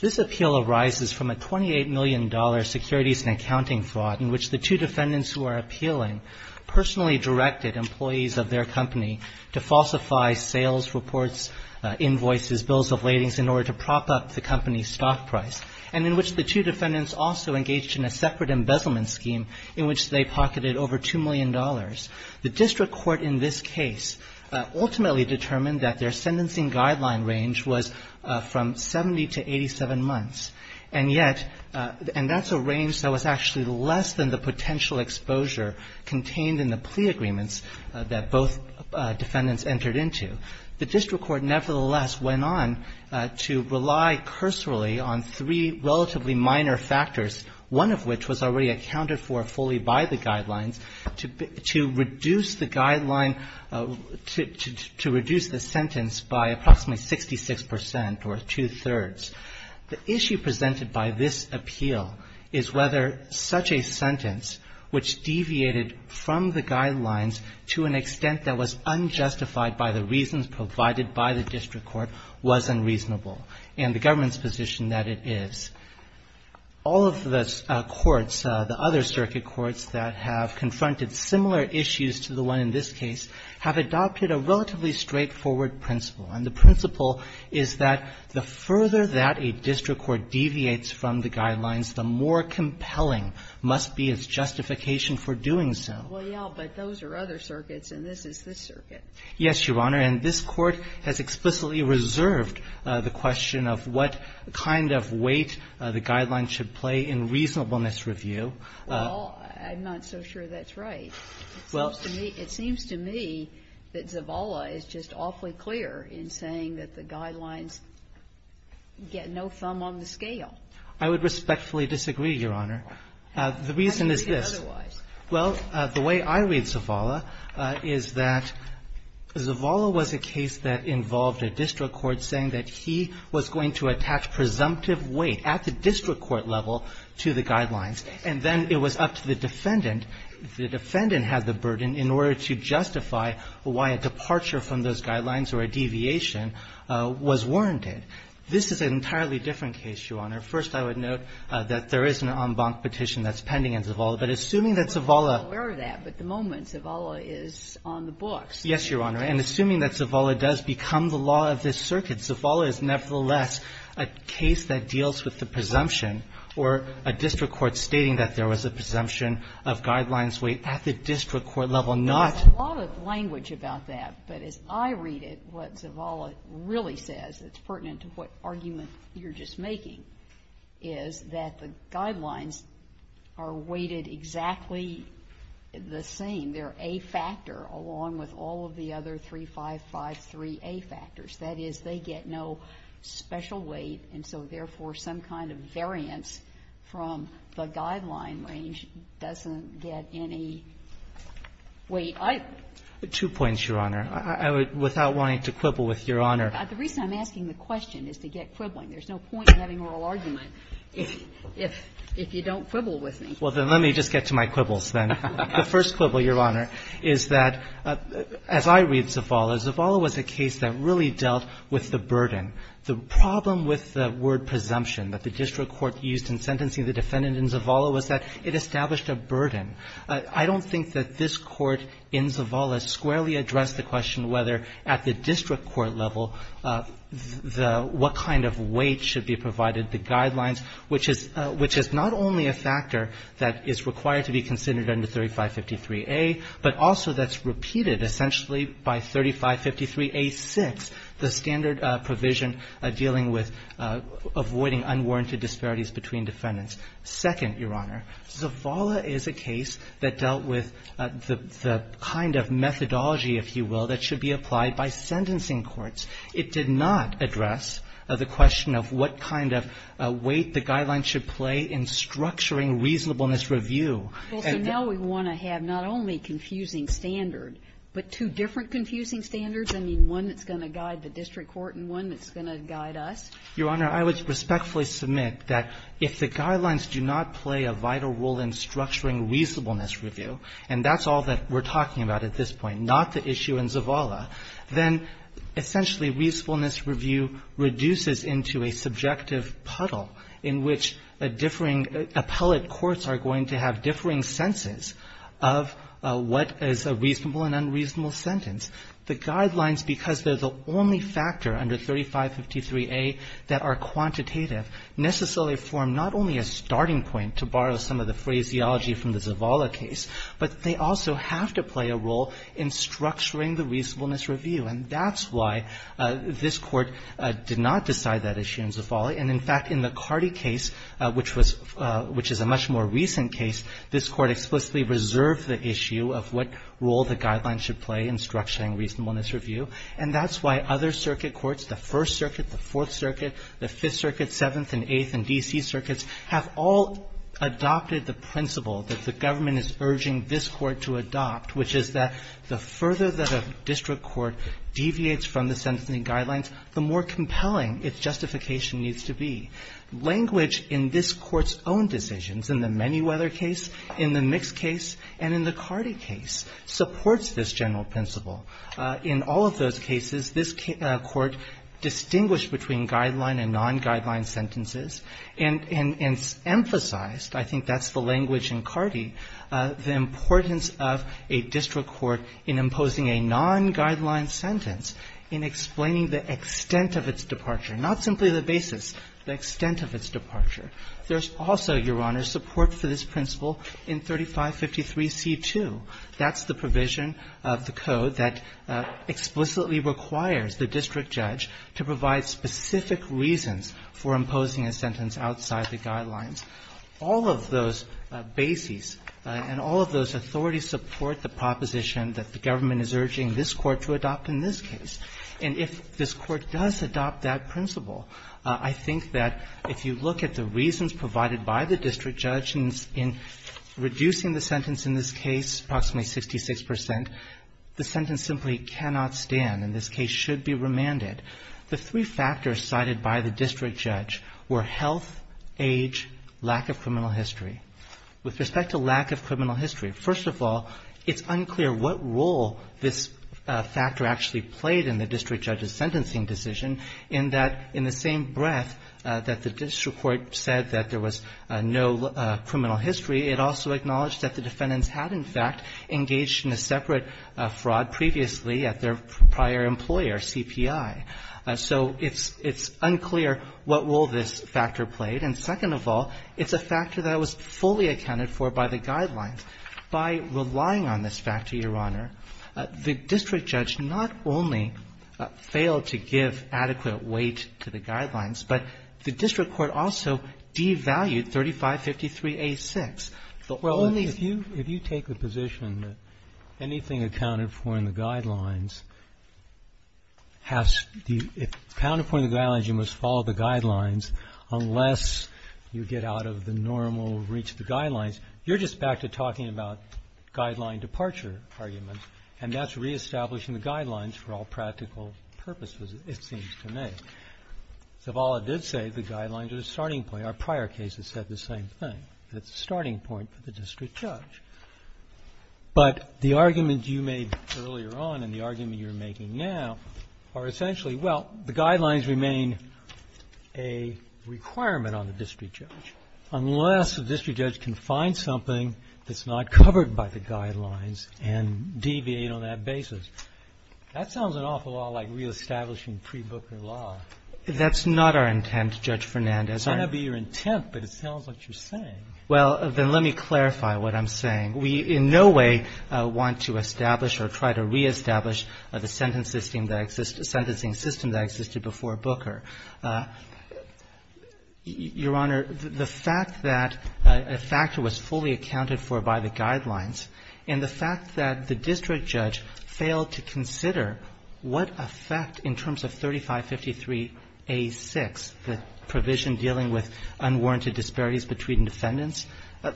This appeal arises from a $28 million securities and accounting fraud in which the two defendants who are appealing personally directed employees of their company to falsify sales reports, invoices, bills of ladings in order to prop up the company's stock price, and in which the two defendants also engaged in a separate embezzlement scheme in which they pocketed over $2 million. The district court in this case ultimately determined that their sentencing guideline range was from 70 to 87 months, and yet — and that's a range that was actually less than the potential exposure contained in the plea agreements that both defendants entered into. The district court nevertheless went on to rely cursorily on three relatively minor factors, one of which was already accounted for fully by the guidelines, to reduce the guideline — to reduce the sentence by approximately 66 percent or two-thirds. The issue presented by this appeal is whether such a sentence, which deviated from the guidelines to an extent that was unjustified by the reasons provided by the district court, was unreasonable and the government's position that it is. All of the courts, the other circuit courts that have confronted similar issues to the one in this case, have adopted a relatively straightforward principle, and the principle is that the further that a district court deviates from the guidelines, the more compelling must be its justification for doing so. Well, yeah, but those are other circuits, and this is this circuit. Yes, Your Honor, and this Court has explicitly reserved the question of what kind of weight the guidelines should play in reasonableness review. Well, I'm not so sure that's right. Well — It seems to me that Zavala is just awfully clear in saying that the guidelines get no thumb on the scale. I would respectfully disagree, Your Honor. The reason is this. I don't think otherwise. Well, the way I read Zavala is that Zavala was a case that involved a district court saying that he was going to attach presumptive weight at the district court level to the guidelines, and then it was up to the defendant. The defendant had the burden in order to justify why a departure from those guidelines or a deviation was warranted. This is an entirely different case, Your Honor. First, I would note that there is an en banc petition that's pending in Zavala. But assuming that Zavala — I'm not aware of that, but the moment Zavala is on the books — Yes, Your Honor. And assuming that Zavala does become the law of this circuit, Zavala is nevertheless a case that deals with the presumption or a district court stating that there was a presumption of guidelines weight at the district court level, not — There's a lot of language about that, but as I read it, what Zavala really says, it's pertinent to what argument you're just making, is that the guidelines are weighted exactly the same. They're A factor along with all of the other 3553A factors. That is, they get no special weight, and so therefore some kind of variance from the guideline range doesn't get any weight. I — Two points, Your Honor. I would, without wanting to quibble with Your Honor — The reason I'm asking the question is to get quibbling. There's no point in having an oral argument if you don't quibble with me. Well, then let me just get to my quibbles, then. The first quibble, Your Honor, is that, as I read Zavala, Zavala was a case that really dealt with the burden. The problem with the word presumption that the district court used in sentencing the defendant in Zavala was that it established a burden. I don't think that this Court in Zavala squarely addressed the question whether at the district court level, the — what kind of weight should be provided, the guidelines, which is — which is not only a factor that is required to be considered under 3553A, but also that's repeated essentially by 3553A-6, the standard provision dealing with avoiding unwarranted disparities between defendants. Second, Your Honor, Zavala is a case that dealt with the kind of methodology, if you will, that should be applied by sentencing courts. It did not address the question of what kind of weight the guidelines should play in structuring reasonableness review. Well, so now we want to have not only confusing standard, but two different confusing standards, I mean, one that's going to guide the district court and one that's going to guide us. Your Honor, I would respectfully submit that if the guidelines do not play a vital role in structuring reasonableness review, and that's all that we're talking about at this point, not the issue in Zavala, then essentially reasonableness review reduces into a subjective puddle in which a differing — appellate courts are going to have differing senses of what is a reasonable and unreasonable sentence. The guidelines, because they're the only factor under 3553A that are quantitative, the phraseology from the Zavala case, but they also have to play a role in structuring the reasonableness review, and that's why this Court did not decide that issue in Zavala. And, in fact, in the Carty case, which was — which is a much more recent case, this Court explicitly reserved the issue of what role the guidelines should play in structuring reasonableness review, and that's why other circuit courts, the First District Court, the Court of Appeals, the Court of Appeals, the Court of Appeals does not have the principle that the government is urging this Court to adopt, which is that the further that a district court deviates from the sentencing guidelines, the more compelling its justification needs to be. Language in this Court's own decisions, in the Manyweather case, in the Mix case, and in the Carty case, supports this general principle. In all of those cases, this Court distinguished between guideline and non-guideline sentences and emphasized, I think that's the language in Carty, the importance of a district court in imposing a non-guideline sentence in explaining the extent of its departure, not simply the basis, the extent of its departure. There's also, Your Honor, support for this principle in 3553C2. That's the provision of the Code that explicitly requires the district judge to provide specific reasons for imposing a sentence outside the guidelines. All of those bases and all of those authorities support the proposition that the government is urging this Court to adopt in this case. And if this Court does adopt that principle, I think that if you look at the reasons provided by the district judge in reducing the sentence in this case, approximately 66 percent, the sentence simply cannot stand, and this case should be remanded. The three factors cited by the district judge were health, age, lack of criminal history. With respect to lack of criminal history, first of all, it's unclear what role this factor actually played in the district judge's sentencing decision, in that, in the same breath that the district court said that there was no criminal history, it also acknowledged that the defendants had, in fact, engaged in a separate fraud previously at their prior employer, CPI. So it's unclear what role this factor played. And second of all, it's a factor that was fully accounted for by the guidelines. By relying on this factor, Your Honor, the district judge not only failed to give an adequate weight to the guidelines, but the district court also devalued 3553A6. The only thing you can do is to say, well, if you take the position that anything accounted for in the guidelines has to be, if accounted for in the guidelines, you must follow the guidelines, unless you get out of the normal reach of the guidelines, you're just back to talking about guideline departure arguments, and that's reestablishing the guidelines for all practical purposes, it seems to me. Zavala did say the guidelines are the starting point. Our prior cases said the same thing, that it's a starting point for the district judge. But the argument you made earlier on and the argument you're making now are essentially, well, the guidelines remain a requirement on the district judge, unless the district judge can find something that's not covered by the guidelines and That sounds an awful lot like reestablishing pre-Booker law. That's not our intent, Judge Fernandez. It might not be your intent, but it sounds like you're saying. Well, then let me clarify what I'm saying. We, in no way, want to establish or try to reestablish the sentencing system that existed before Booker. Your Honor, the fact that a factor was fully accounted for by the guidelines, and the fact that the district judge failed to consider what effect, in terms of 3553A6, the provision dealing with unwarranted disparities between defendants, the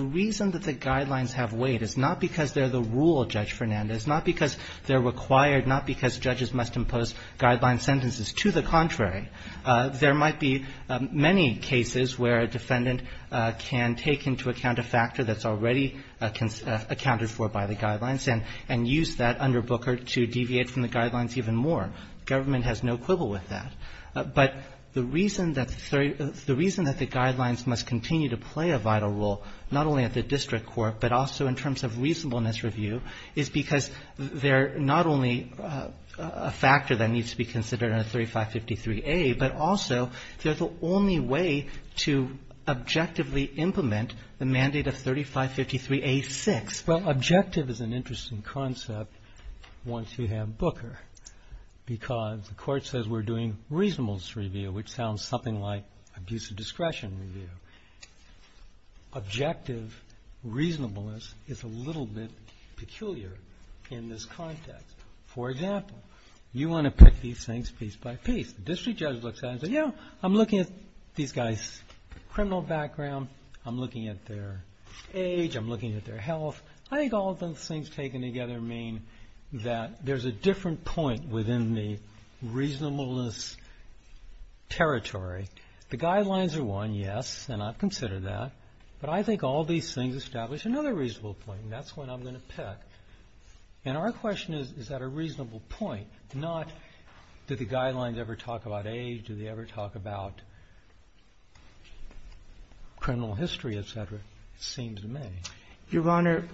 reason that the guidelines have weight is not because they're the rule, Judge Fernandez, not because they're required, not because judges must impose guideline sentences. To the contrary, there might be many cases where a defendant can take into account a factor that's already accounted for by the guidelines and use that under Booker to deviate from the guidelines even more. The government has no quibble with that. But the reason that the guidelines must continue to play a vital role, not only at the district court, but also in terms of reasonableness review, is because they're not only a factor that needs to be considered in a 3553A, but also they're the only way to objectively implement the mandate of 3553A6. Well, objective is an interesting concept once you have Booker, because the court says we're doing reasonableness review, which sounds something like abuse of discretion review. Objective reasonableness is a little bit peculiar in this context. For example, you want to pick these things piece by piece. The district judge looks at it and says, yeah, I'm looking at these guys' criminal background, I'm looking at their age, I'm looking at their health. I think all of those things taken together mean that there's a different point within the reasonableness territory. The guidelines are one, yes, and I've considered that. But I think all these things establish another reasonable point, and that's what I'm going to pick. And our question is, is that a reasonable point, not, did the guidelines ever talk about age, did they ever talk about criminal history, et cetera? It seems to me. Your Honor,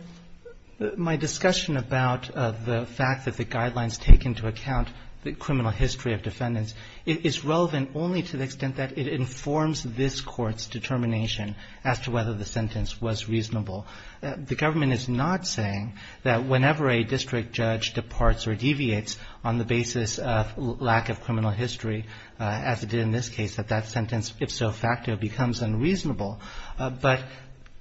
my discussion about the fact that the guidelines take into account the criminal history of defendants is relevant only to the extent that it informs this court's determination as to whether the sentence was reasonable. The government is not saying that whenever a district judge departs or deviates on the basis of lack of criminal history, as it did in this case, that that sentence, if so facto, becomes unreasonable. But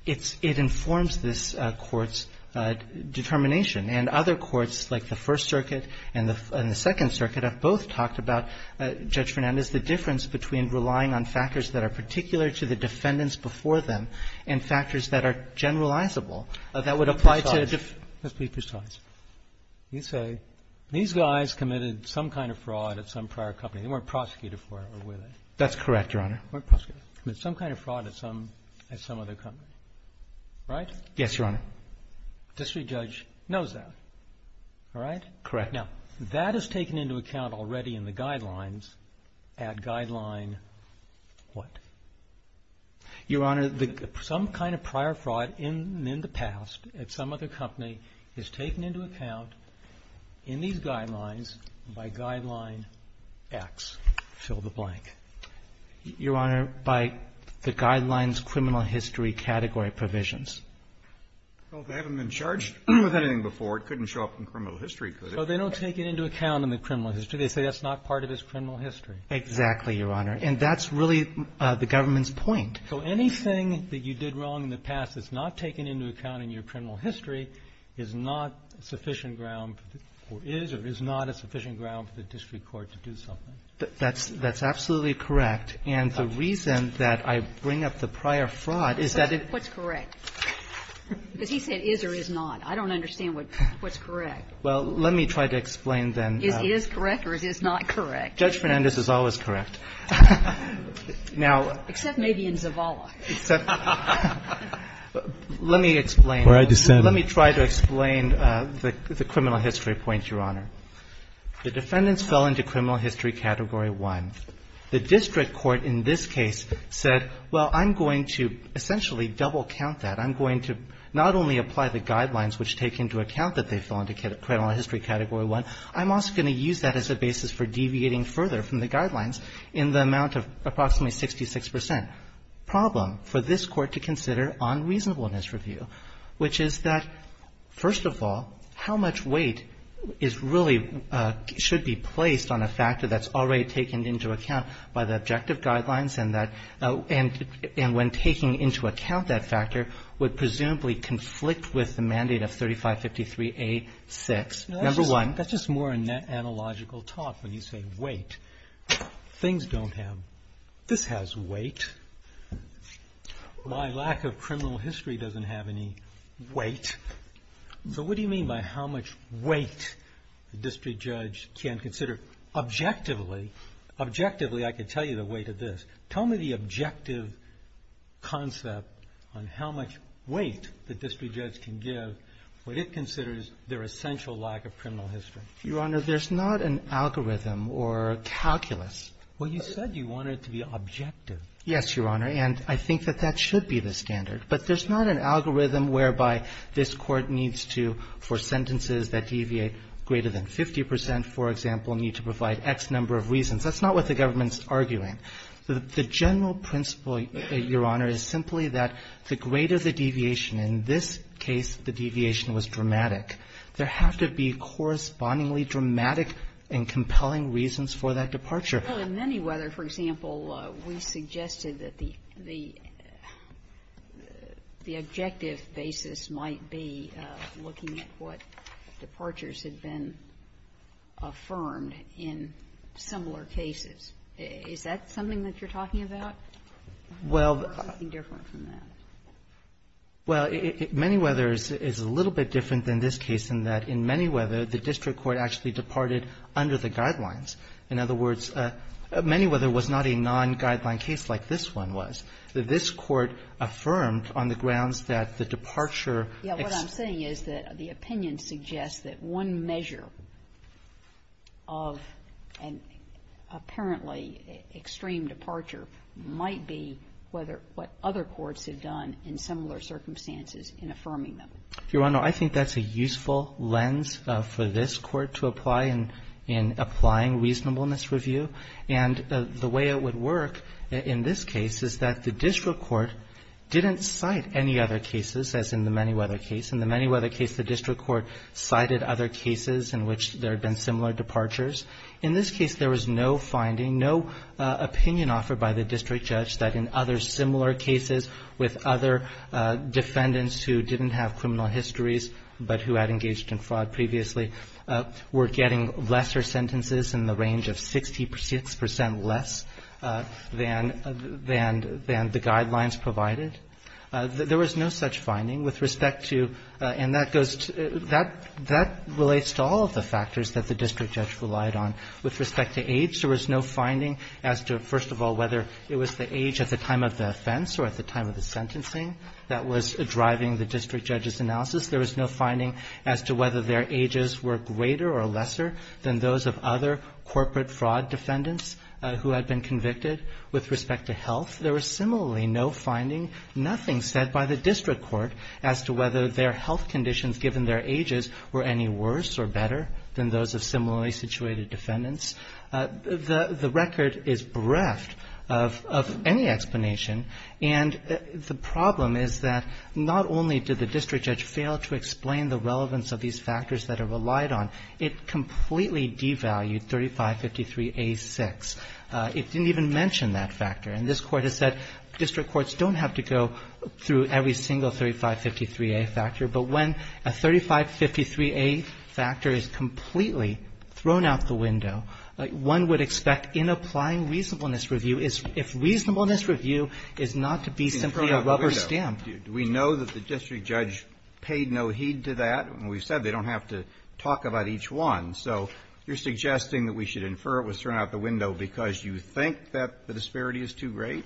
it informs this court's determination. And other courts, like the First Circuit and the Second Circuit, have both talked about, Judge Fernandez, the difference between relying on factors that are particular to the defendants before them and factors that are generalizable that would apply to the ---- Let's be precise. You say these guys committed some kind of fraud at some prior company. They weren't prosecuted for it, were they? That's correct, Your Honor. They weren't prosecuted. They committed some kind of fraud at some other company, right? Yes, Your Honor. District judge knows that, all right? Correct. Now, that is taken into account already in the guidelines at guideline what? Your Honor, some kind of prior fraud in the past at some other company is taken into account in these guidelines by guideline X, fill the blank. Your Honor, by the guidelines criminal history category provisions. Well, they haven't been charged with anything before. It couldn't show up in criminal history, could it? So they don't take it into account in the criminal history. They say that's not part of his criminal history. Exactly, Your Honor. And that's really the government's point. So anything that you did wrong in the past that's not taken into account in your criminal history is not sufficient ground or is or is not a sufficient ground for the district court to do something. That's absolutely correct. And the reason that I bring up the prior fraud is that it's correct. Because he said is or is not. I don't understand what's correct. Well, let me try to explain then. Is is correct or is is not correct? Judge Fernandez is always correct. Now. Except maybe in Zavala. Let me explain. Let me try to explain the criminal history point, Your Honor. The defendants fell into criminal history category one. The district court in this case said, well, I'm going to essentially double count that. I'm going to not only apply the guidelines which take into account that they fell into criminal history category one, I'm also going to use that as a basis for deviating further from the guidelines in the amount of approximately 66 percent. Problem for this court to consider on reasonableness review, which is that first of all, how much weight is really should be placed on a factor that's already taken into account by the objective guidelines and that and and when taking into account that factor would presumably conflict with the mandate of thirty five fifty three eight six number one. That's just more analogical talk. When you say wait, things don't have this has weight. My lack of criminal history doesn't have any weight. So what do you mean by how much weight the district judge can consider objectively? Objectively, I could tell you the weight of this. Tell me the objective concept on how much weight the district judge can give what it considers their essential lack of criminal history. Your Honor, there's not an algorithm or calculus. Well, you said you wanted to be objective. Yes, Your Honor. And I think that that should be the standard. But there's not an algorithm whereby this court needs to for sentences that deviate greater than 50 percent, for example, need to provide X number of reasons. That's not what the government's arguing. The general principle, Your Honor, is simply that the greater the deviation, in this case, the deviation was dramatic. There have to be correspondingly dramatic and compelling reasons for that departure. Well, in Manyweather, for example, we suggested that the objective basis might be looking at what departures had been affirmed in similar cases. Is that something that you're talking about? Well, the court would be different from that. Well, Manyweather is a little bit different than this case in that in Manyweather, the district court actually departed under the guidelines. In other words, Manyweather was not a non-guideline case like this one was. This court affirmed on the grounds that the departure exceeds. Yes. What I'm saying is that the opinion suggests that one measure of an apparently extreme departure might be whether what other courts have done in similar circumstances in affirming them. Your Honor, I think that's a useful lens for this court to apply in applying reasonableness review. And the way it would work in this case is that the district court didn't cite any other cases, as in the Manyweather case. In the Manyweather case, the district court cited other cases in which there had been similar departures. In this case, there was no finding, no opinion offered by the district judge that in other similar cases, with other defendants who didn't have criminal histories but who had engaged in fraud previously, were getting lesser sentences in the range of 66 percent less than the guidelines provided. There was no such finding with respect to – and that goes to – that relates to all of the factors that the district judge relied on. With respect to age, there was no finding as to, first of all, whether it was the age at the time of the offense or at the time of the sentencing that was driving the district judge's analysis. There was no finding as to whether their ages were greater or lesser than those of other corporate fraud defendants who had been convicted. With respect to health, there was similarly no finding, nothing said by the district court as to whether their health conditions, given their ages, were any worse or better than those of similarly situated defendants. The record is bereft of any explanation, and the problem is that not only did the district judge fail to explain the relevance of these factors that it relied on, it completely devalued 3553A6. It didn't even mention that factor. And this Court has said district courts don't have to go through every single 3553A factor, but when a 3553A factor is completely thrown out the window, one would expect, in applying reasonableness review, is if reasonableness review is not to be simply a rubber stamp. Kennedy, do we know that the district judge paid no heed to that? We've said they don't have to talk about each one, so you're suggesting that we should infer it was thrown out the window because you think that the disparity is too great?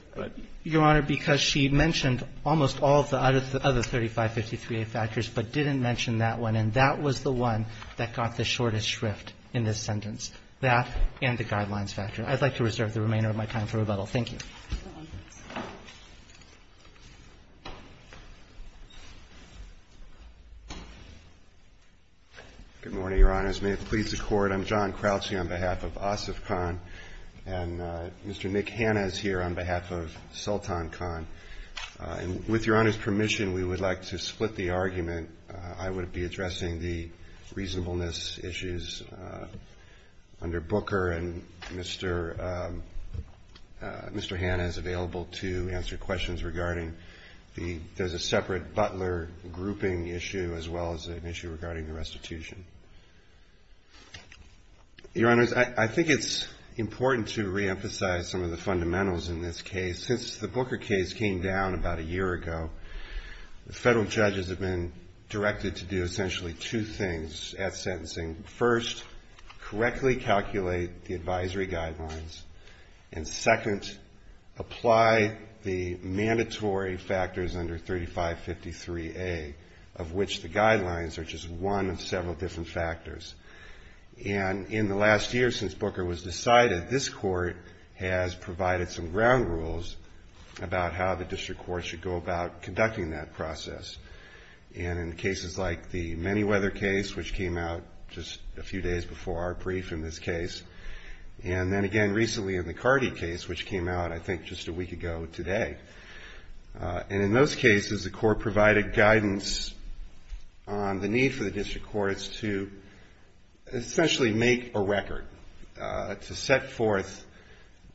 Your Honor, because she mentioned almost all of the other 3553A factors, but didn't mention that one, and that was the one that got the shortest shrift in this sentence, that and the guidelines factor. I'd like to reserve the remainder of my time for rebuttal. Thank you. Good morning, Your Honors. May it please the Court, I'm John Crouching on behalf of OSIFCON, and Mr. Nick Hanna is here on behalf of Sultan Khan. With Your Honor's permission, we would like to split the argument. I would be addressing the reasonableness issues under Booker, and Mr. Hanna is available to answer questions regarding the, there's a separate Butler grouping issue, as well as an issue regarding the restitution. Your Honors, I think it's important to reemphasize some of the fundamentals in this case. Since the Booker case came down about a year ago, the federal judges have been directed to do essentially two things at sentencing. First, correctly calculate the advisory guidelines, and second, apply the mandatory factors under 3553A, of which the guidelines are just one of several different factors. In the last year since Booker was decided, this Court has provided some ground rules about how the district court should go about conducting that process. In cases like the Manyweather case, which came out just a few days before our brief in this case, and then again recently in the Carty case, which came out I think just a week ago today. And in those cases, the Court provided guidance on the need for the district courts to essentially make a record, to set forth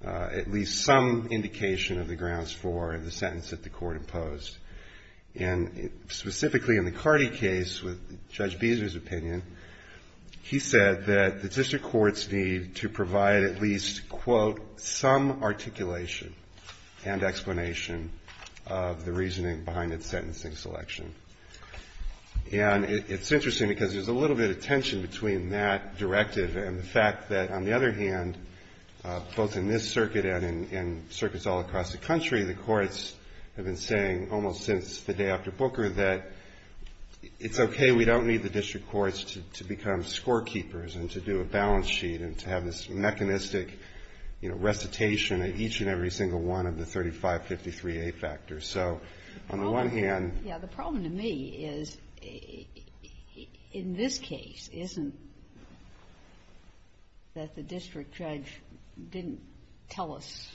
at least some indication of the grounds for the sentence that the Court imposed. And specifically in the Carty case, with Judge Beezer's opinion, he said that the district of the reasoning behind its sentencing selection. And it's interesting, because there's a little bit of tension between that directive and the fact that, on the other hand, both in this circuit and in circuits all across the country, the courts have been saying almost since the day after Booker that it's okay, we don't need the district courts to become scorekeepers and to do a balance sheet and to have this mechanistic recitation of each and every single one of the 3553A factors. So on the one hand... Yeah, the problem to me is, in this case, isn't that the district judge didn't tell us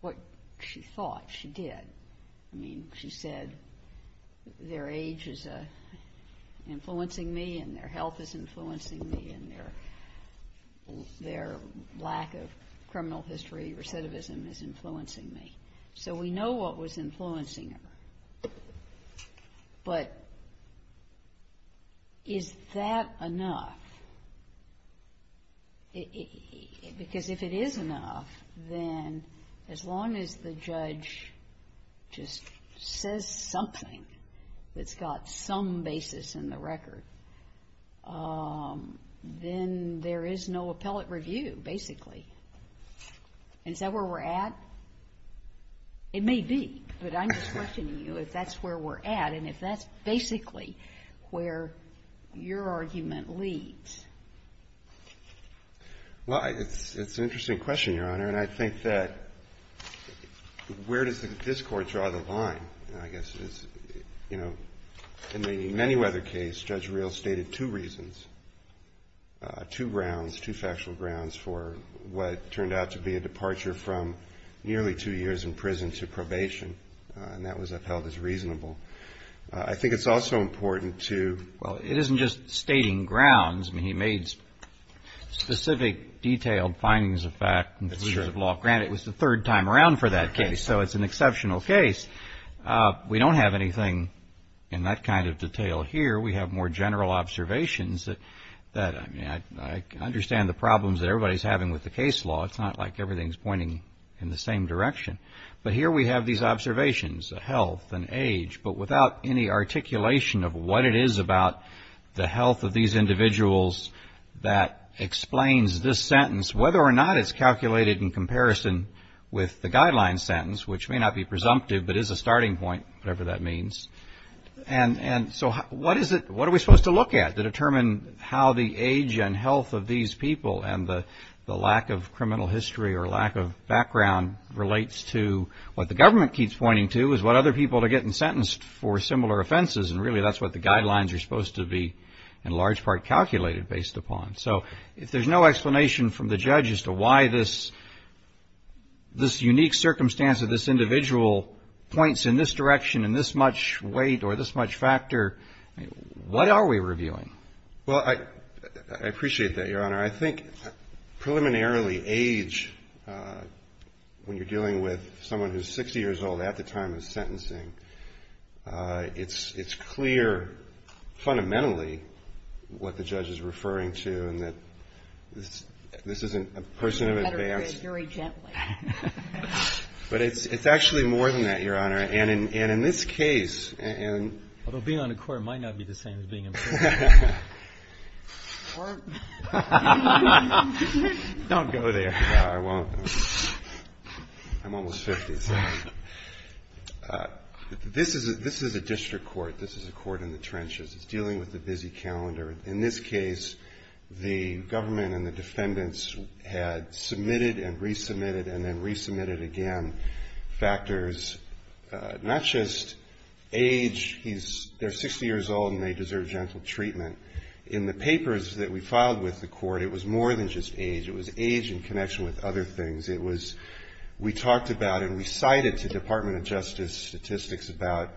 what she thought she did. I mean, she said, their age is influencing me and their health is influencing me and their lack of criminal history, recidivism, is influencing me. So we know what was influencing her, but is that enough? Because if it is enough, then as long as the judge just says something that's got some basis in the record, then there is no appellate review, basically. Is that where we're at? It may be, but I'm just questioning you if that's where we're at and if that's basically where your argument leads. Well, it's an interesting question, Your Honor, and I think that where does this court draw the line? I guess it's, you know, in the Manyweather case, Judge Reel stated two reasons, two grounds, two factual grounds for what turned out to be a departure from nearly two years in prison to probation, and that was upheld as reasonable. I think it's also important to... Well, it isn't just stating grounds. I mean, he made specific, detailed findings of fact and conclusions of law. Granted, it was the third time around for that case, so it's an exceptional case. We don't have anything in that kind of detail here. We have more general observations that, I mean, I understand the problems that everybody's having with the case law. It's not like everything's pointing in the same direction. But here we have these observations, health and age, but without any articulation of what it is about the health of these individuals that explains this sentence, whether or not it's calculated in comparison with the guideline sentence, which may not be presumptive, but is a starting point, whatever that means. And so what is it, what are we supposed to look at to determine how the age and health of these people and the lack of criminal history or lack of background relates to what the government keeps pointing to is what other people are getting sentenced for similar offenses. And really, that's what the guidelines are supposed to be, in large part, calculated based upon. So if there's no explanation from the judge as to why this unique circumstance of this individual points in this direction in this much weight or this much factor, what are we reviewing? Well, I appreciate that, Your Honor. I think preliminarily age, when you're dealing with someone who's 60 years old at the time of sentencing, it's clear fundamentally what the judge is referring to and that this isn't a person of advance. You better read very gently. But it's actually more than that, Your Honor. And in this case, and… Although being on a court might not be the same as being in prison. Court. Don't go there. I won't. I'm almost 50, so. This is a district court. This is a court in the trenches. It's dealing with the busy calendar. In this case, the government and the defendants had submitted and resubmitted and then resubmitted again factors, not just age, they're 60 years old and they deserve gentle treatment. In the papers that we filed with the court, it was more than just age. It was age in connection with other things. It was, we talked about and we cited to Department of Justice statistics about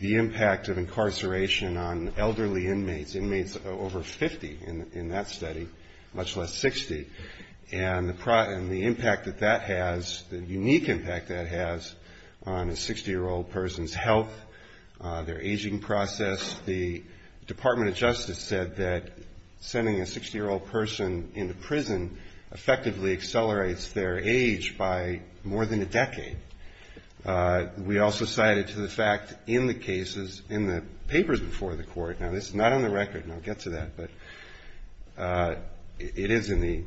the impact of incarceration on elderly inmates, inmates over 50 in that study, much less 60. And the impact that that has, the unique impact that has on a 60-year-old person's health, their aging process. The Department of Justice said that sending a 60-year-old person into prison effectively accelerates their age by more than a decade. We also cited to the fact in the cases, in the papers before the court. Now, this is not on the record, and I'll get to that, but it is in the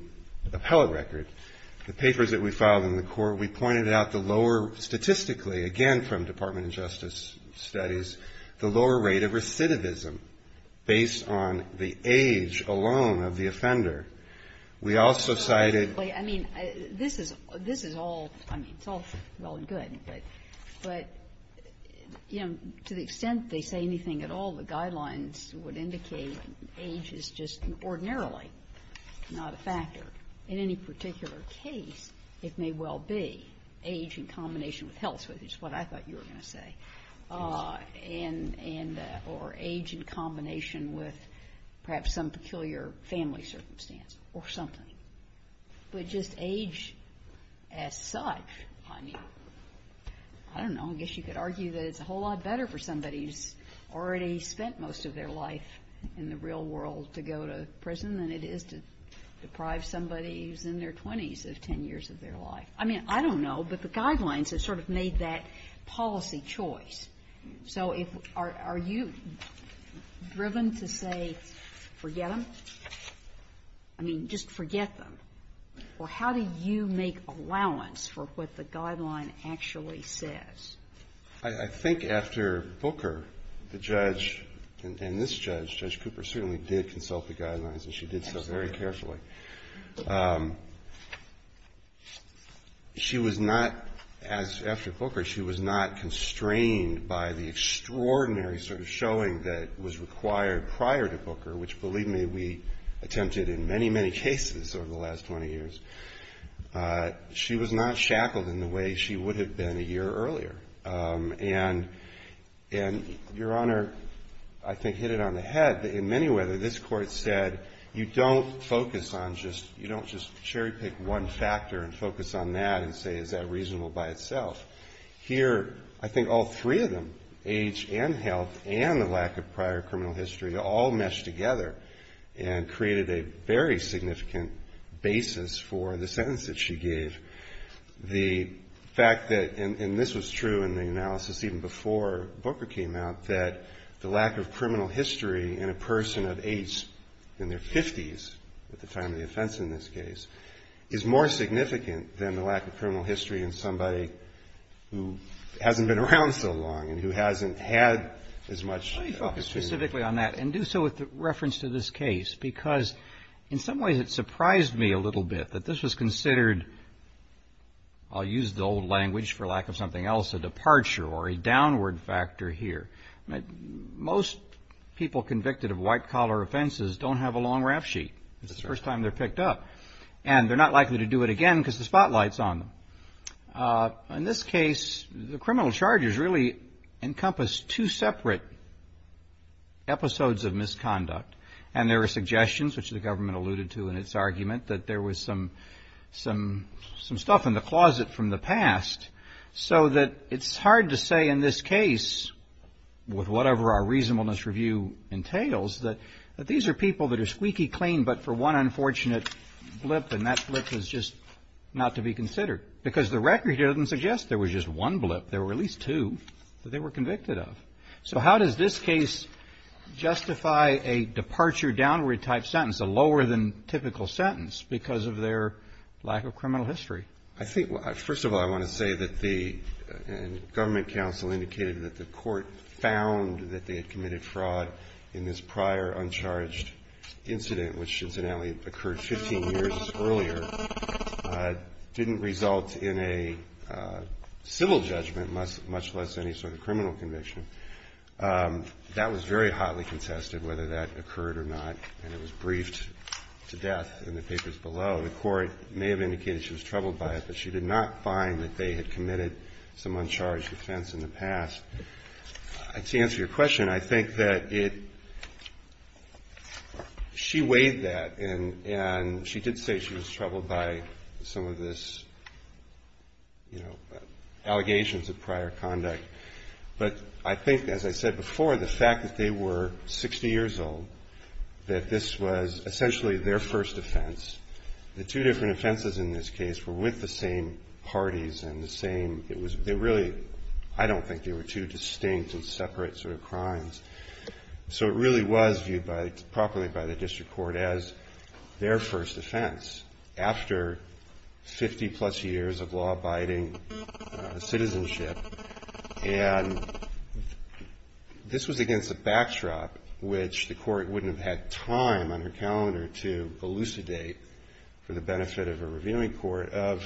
appellate record. The papers that we filed in the court, we pointed out the lower statistically, again from Department of Justice studies, the lower rate of recidivism based on the age alone of the offender. We also cited. I mean, this is all, I mean, it's all well and good. But, you know, to the extent they say anything at all, the guidelines would indicate age is just ordinarily not a factor. In any particular case, it may well be age in combination with health, which is what I thought you were going to say, or age in combination with perhaps some peculiar family circumstance or something. But just age as such, I mean, I don't know, I guess you could argue that it's a whole lot better for somebody who's already spent most of their life in the real world to go to prison than it is to deprive somebody who's in their 20s of 10 years of their life. I mean, I don't know, but the guidelines have sort of made that policy choice. So are you driven to say forget them? I mean, just forget them? Or how do you make allowance for what the guideline actually says? I think after Booker, the judge, and this judge, Judge Cooper, certainly did consult the guidelines, and she did so very carefully. She was not, as after Booker, she was not constrained by the extraordinary sort of showing that was required prior to Booker, which, believe me, we attempted in many, many cases over the last 20 years. She was not shackled in the way she would have been a year earlier. And Your Honor, I think, hit it on the head. In many ways, this Court said you don't focus on just, you don't just cherry pick one factor and focus on that and say is that reasonable by itself. Here, I think all three of them, age and health and the lack of prior criminal history, all mesh together and created a very significant basis for the sentence that she gave. The fact that, and this was true in the analysis even before Booker came out, that the lack of criminal history in a person of age in their 50s at the time of the offense in this case is more significant than the lack of criminal history in somebody who hasn't been around so long and who hasn't had as much experience. Let me focus specifically on that and do so with reference to this case because in some ways it surprised me a little bit that this was considered, I'll use the old language, for lack of something else, a departure or a downward factor here. Most people convicted of white collar offenses don't have a long rap sheet. It's the first time they're picked up. And they're not likely to do it again because the spotlight's on them. In this case, the criminal charges really encompass two separate episodes of misconduct. And there were suggestions, which the government alluded to in its argument, that there was some stuff in the closet from the past so that it's hard to say in this case, with whatever our reasonableness review entails, that these are people that are squeaky clean but for one unfortunate blip and that blip is just not to be considered because the record doesn't suggest there was just one blip. There were at least two that they were convicted of. So how does this case justify a departure-downward type sentence, a lower than typical sentence because of their lack of criminal history? I think, first of all, I want to say that the government counsel indicated that the court found that they had committed fraud in this prior uncharged incident, which incidentally occurred 15 years earlier, didn't result in a civil judgment, much less any sort of criminal conviction. That was very hotly contested, whether that occurred or not, and it was briefed to death in the papers below. The court may have indicated she was troubled by it, but she did not find that they had committed some uncharged offense in the past. To answer your question, I think that it – she weighed that And she did say she was troubled by some of this, you know, allegations of prior conduct. But I think, as I said before, the fact that they were 60 years old, that this was essentially their first offense. The two different offenses in this case were with the same parties and the same – it was – they really – I don't think they were two distinct and separate sort of crimes. So it really was viewed by – properly by the district court as their first offense after 50-plus years of law-abiding citizenship. And this was against a backdrop, which the court wouldn't have had time on her calendar to elucidate for the benefit of a reviewing court, of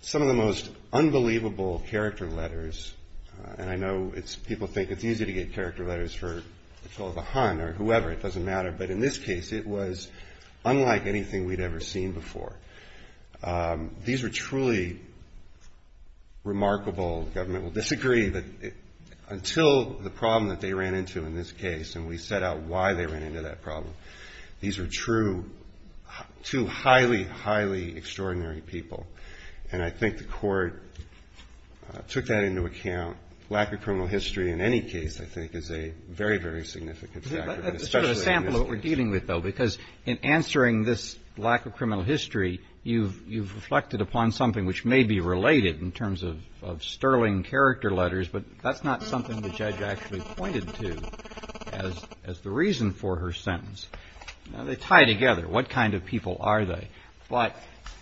some of the most unbelievable character letters. And I know it's – people think it's easy to get character letters for – it's called a hunt or whoever, it doesn't matter. But in this case, it was unlike anything we'd ever seen before. These were truly remarkable – the government will disagree, but until the problem that they ran into in this case, and we set out why they ran into that problem, these were true – two highly, highly extraordinary people. And I think the court took that into account. Lack of criminal history in any case, I think, is a very, very significant factor, especially in this case. But that's sort of a sample of what we're dealing with, though, because in answering this lack of criminal history, you've reflected upon something which may be related in terms of sterling character letters, but that's not something the judge actually pointed to as the reason for her sentence. Now, they tie together. What kind of people are they? But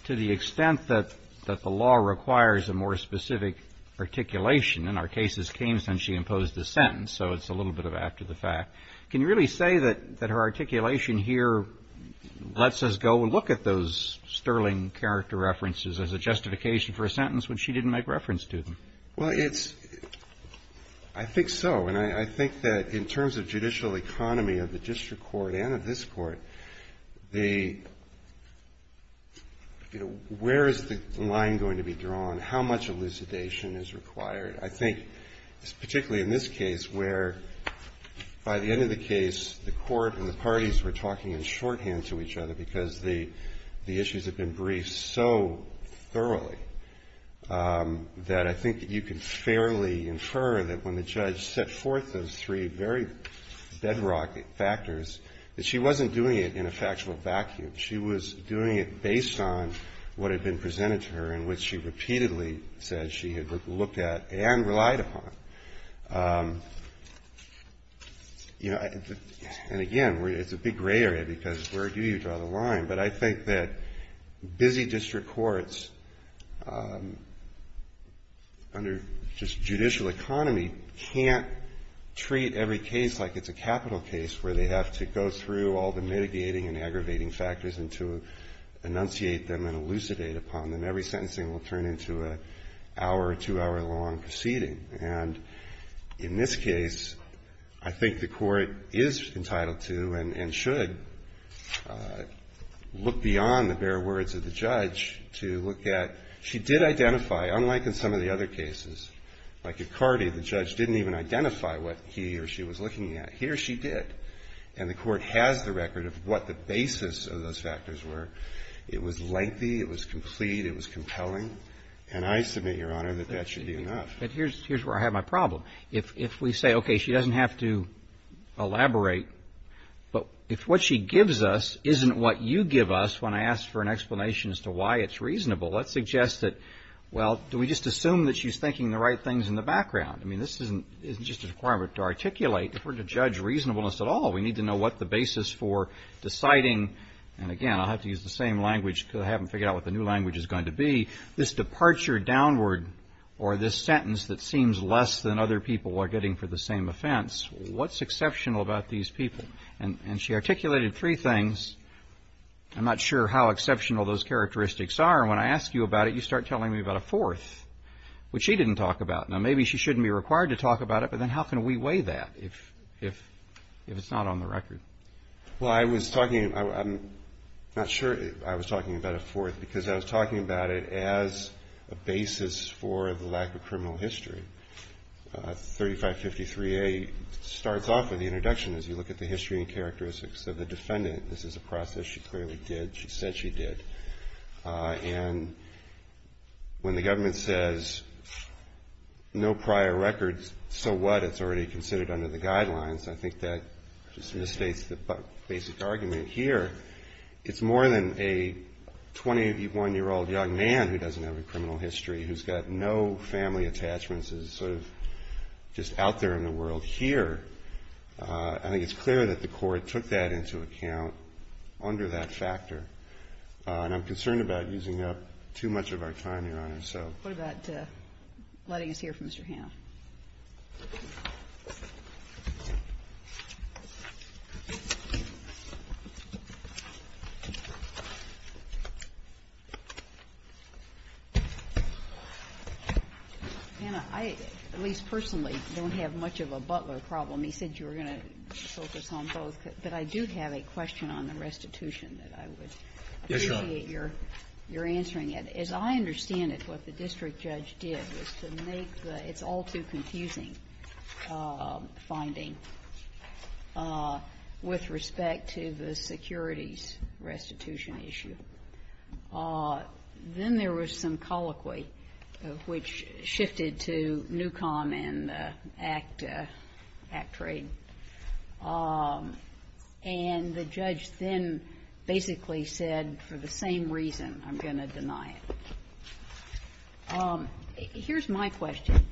to the extent that the law requires a more specific articulation, and our cases came since she imposed a sentence, so it's a little bit of after the fact, can you really say that her articulation here lets us go and look at those sterling character references as a justification for a sentence when she didn't make reference to them? Well, it's – I think so, and I think that in terms of judicial economy of the district court and of this court, the – you know, where is the line going to be drawn? How much elucidation is required? I think particularly in this case where by the end of the case, the court and the parties were talking in shorthand to each other because the issues have been briefed so thoroughly that I think you can fairly infer that when the judge set forth those three very bedrock factors, that she wasn't doing it in a factual vacuum. She was doing it based on what had been presented to her and what she repeatedly said she had looked at and relied upon. You know, and again, it's a big gray area because where do you draw the line? But I think that busy district courts under just judicial economy can't treat every case like it's a capital case where they have to go through all the mitigating and aggravating factors and to enunciate them and elucidate upon them. Every sentencing will turn into an hour or two-hour long proceeding. And in this case, I think the court is entitled to and should look beyond the bare words of the judge to look at – she did identify, unlike in some of the other cases, like Icardi, the judge didn't even identify what he or she was looking at. Here she did. And the court has the record of what the basis of those factors were. It was lengthy. It was complete. It was compelling. And I submit, Your Honor, that that should be enough. But here's where I have my problem. If we say, okay, she doesn't have to elaborate, but if what she gives us isn't what you give us when I ask for an explanation as to why it's reasonable, let's suggest that, well, do we just assume that she's thinking the right things in the background? I mean, this isn't just a requirement to articulate. If we're to judge reasonableness at all, we need to know what the basis for deciding – and, again, I'll have to use the same language because I haven't figured out what the new language is going to be – this departure downward or this sentence that seems less than other people are getting for the same offense, what's exceptional about these people? And she articulated three things. I'm not sure how exceptional those characteristics are. And when I ask you about it, you start telling me about a fourth, which she didn't talk about. Now, maybe she shouldn't be required to talk about it, but then how can we weigh that if it's not on the record? Well, I was talking – I'm not sure I was talking about a fourth because I was talking about it as a basis for the lack of criminal history. 3553A starts off with the introduction as you look at the history and characteristics of the defendant. This is a process she clearly did. She said she did. And when the government says no prior records, so what? It's already considered under the guidelines. I think that just misstates the basic argument here. It's more than a 21-year-old young man who doesn't have a criminal history, who's got no family attachments. It's sort of just out there in the world here. I think it's clear that the Court took that into account under that factor. And I'm concerned about using up too much of our time, Your Honor, so. What about letting us hear from Mr. Hamm? Anna, I, at least personally, don't have much of a Butler problem. He said you were going to focus on both. But I do have a question on the restitution that I would appreciate your answering it. Yes, Your Honor. As I understand it, what the district judge did was to make the all-too-confusing finding with respect to the securities restitution issue. Then there was some colloquy which shifted to NUCOM and ACTRADE. And the judge then basically said, for the same reason, I'm going to deny it. Here's my question.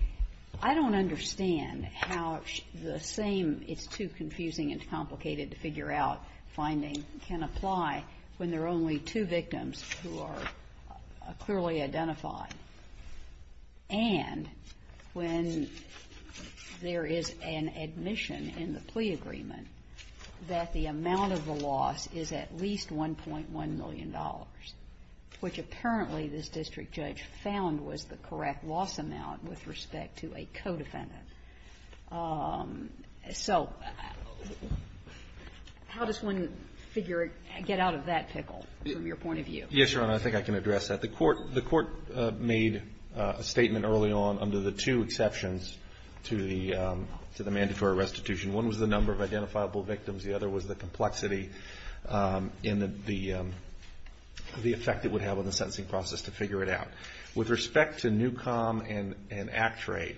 I don't understand how the same it's-too-confusing-and-complicated-to-figure-out finding can apply when there are only two victims who are clearly identified and when there is an admission in the plea agreement that the amount of the loss is at least $1.1 million, which apparently this district judge found was the correct loss amount with respect to a co-defendant. So how does one figure or get out of that pickle from your point of view? Yes, Your Honor, I think I can address that. The court made a statement early on under the two exceptions to the mandatory restitution. One was the number of identifiable victims. The other was the complexity and the effect it would have on the sentencing process to figure it out. With respect to NUCOM and ACTRADE,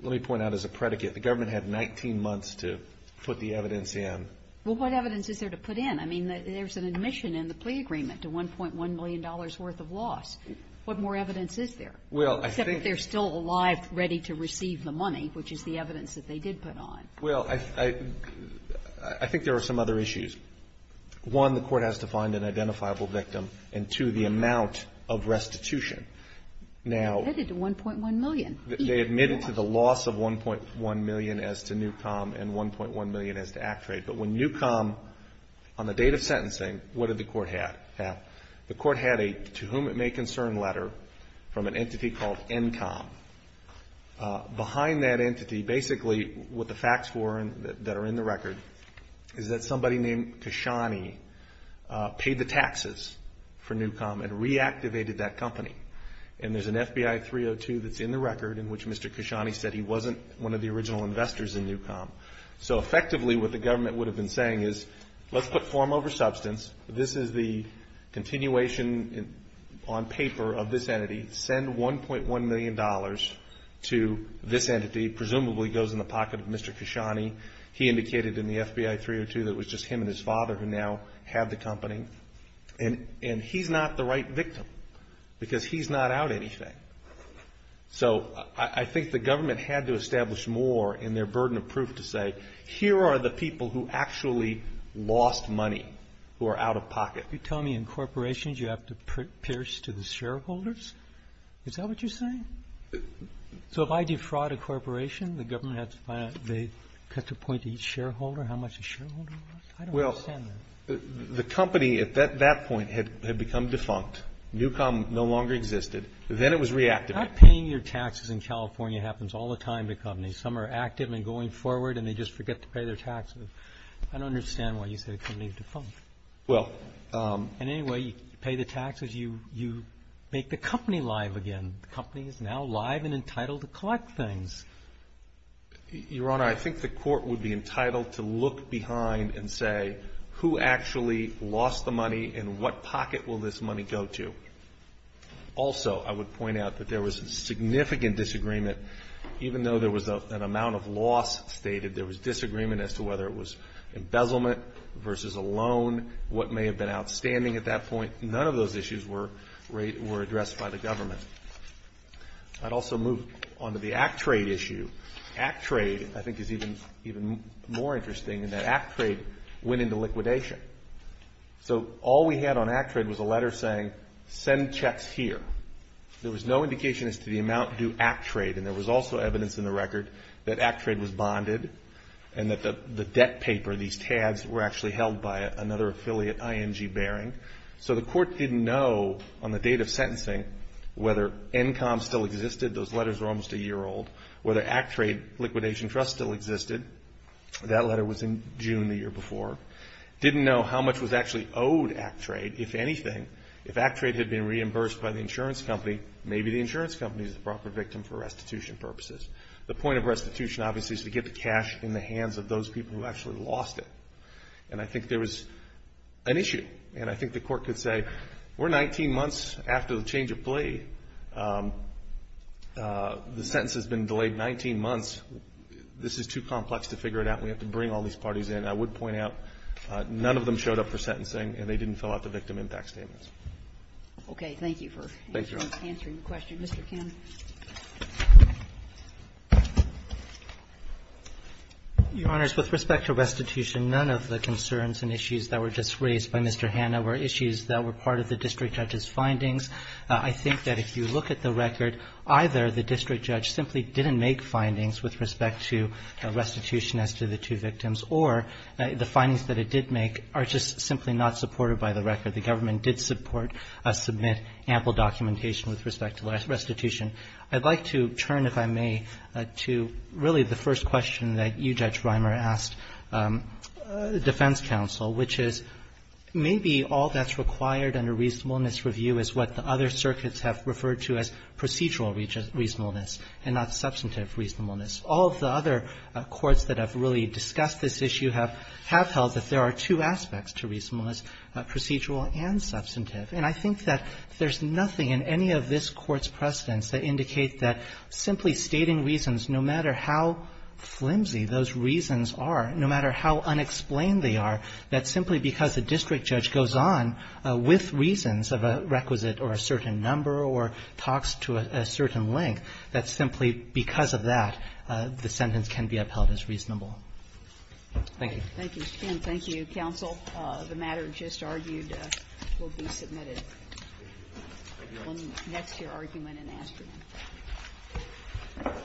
let me point out as a predicate, the government had 19 months to put the evidence in. Well, what evidence is there to put in? I mean, there's an admission in the plea agreement to $1.1 million worth of loss. What more evidence is there? Well, I think- Except that they're still alive, ready to receive the money, which is the evidence that they did put on. Well, I think there are some other issues. One, the court has to find an identifiable victim. And two, the amount of restitution. Now- Admitted to $1.1 million. They admitted to the loss of $1.1 million as to NUCOM and $1.1 million as to ACTRADE. But when NUCOM, on the date of sentencing, what did the court have? The court had a to-whom-it-may-concern letter from an entity called NCOM. Behind that entity, basically, what the facts were that are in the record is that somebody named Kashani paid the taxes for NUCOM and reactivated that company. And there's an FBI 302 that's in the record in which Mr. Kashani said he wasn't one of the original investors in NUCOM. So, effectively, what the government would have been saying is, let's put form over substance. This is the continuation on paper of this entity. Send $1.1 million to this entity. Presumably goes in the pocket of Mr. Kashani. He indicated in the FBI 302 that it was just him and his father who now have the company. And he's not the right victim because he's not out anything. So I think the government had to establish more in their burden of proof to say, here are the people who actually lost money, who are out of pocket. You tell me in corporations you have to pierce to the shareholders? Is that what you're saying? So if I defraud a corporation, the government has to find out they cut the point to each shareholder, how much a shareholder lost? I don't understand that. Well, the company at that point had become defunct. NUCOM no longer existed. Then it was reactivated. Not paying your taxes in California happens all the time to companies. Some are active and going forward and they just forget to pay their taxes. I don't understand why you say the company is defunct. Well. And anyway, you pay the taxes, you make the company live again. The company is now live and entitled to collect things. Your Honor, I think the Court would be entitled to look behind and say, who actually lost the money and what pocket will this money go to? Also, I would point out that there was significant disagreement. Even though there was an amount of loss stated, there was disagreement as to whether it was embezzlement versus a loan, what may have been outstanding at that point. None of those issues were addressed by the government. I'd also move on to the ACTRADE issue. ACTRADE, I think, is even more interesting in that ACTRADE went into liquidation. So all we had on ACTRADE was a letter saying, send checks here. There was no indication as to the amount due ACTRADE. And there was also evidence in the record that ACTRADE was bonded and that the debt paper, these tabs, were actually held by another affiliate, IMG Bearing. So the Court didn't know on the date of sentencing whether ENCOM still existed. Those letters were almost a year old. Whether ACTRADE liquidation trust still existed. That letter was in June the year before. Didn't know how much was actually owed ACTRADE, if anything. If ACTRADE had been reimbursed by the insurance company, maybe the insurance company is the proper victim for restitution purposes. The point of restitution, obviously, is to get the cash in the hands of those people who actually lost it. And I think there was an issue. And I think the Court could say, we're 19 months after the change of plea. The sentence has been delayed 19 months. This is too complex to figure it out. We have to bring all these parties in. I would point out none of them showed up for sentencing, and they didn't fill out the victim impact statements. Okay. Thank you for answering the question. Mr. Kim. Your Honors, with respect to restitution, none of the concerns and issues that were just raised by Mr. Hanna were issues that were part of the district judge's findings. I think that if you look at the record, either the district judge simply didn't make findings with respect to restitution as to the two victims, or the findings that it did make are just simply not supported by the record. The government did support, submit ample documentation with respect to restitution. I'd like to turn, if I may, to really the first question that you, Judge Reimer, asked the defense counsel, which is maybe all that's required under reasonableness review is what the other circuits have referred to as procedural reasonableness and not substantive reasonableness. All of the other courts that have really discussed this issue have held that there are two aspects to reasonableness, procedural and substantive. And I think that there's nothing in any of this Court's precedents that indicate that simply stating reasons, no matter how flimsy those reasons are, no matter how unexplained they are, that simply because a district judge goes on with reasons of a requisite or a certain number or talks to a certain length, that simply because of that, the sentence can be upheld as reasonable. Thank you. Thank you. And thank you, counsel. The matter just argued will be submitted. That's your argument in Astrin. Thank you.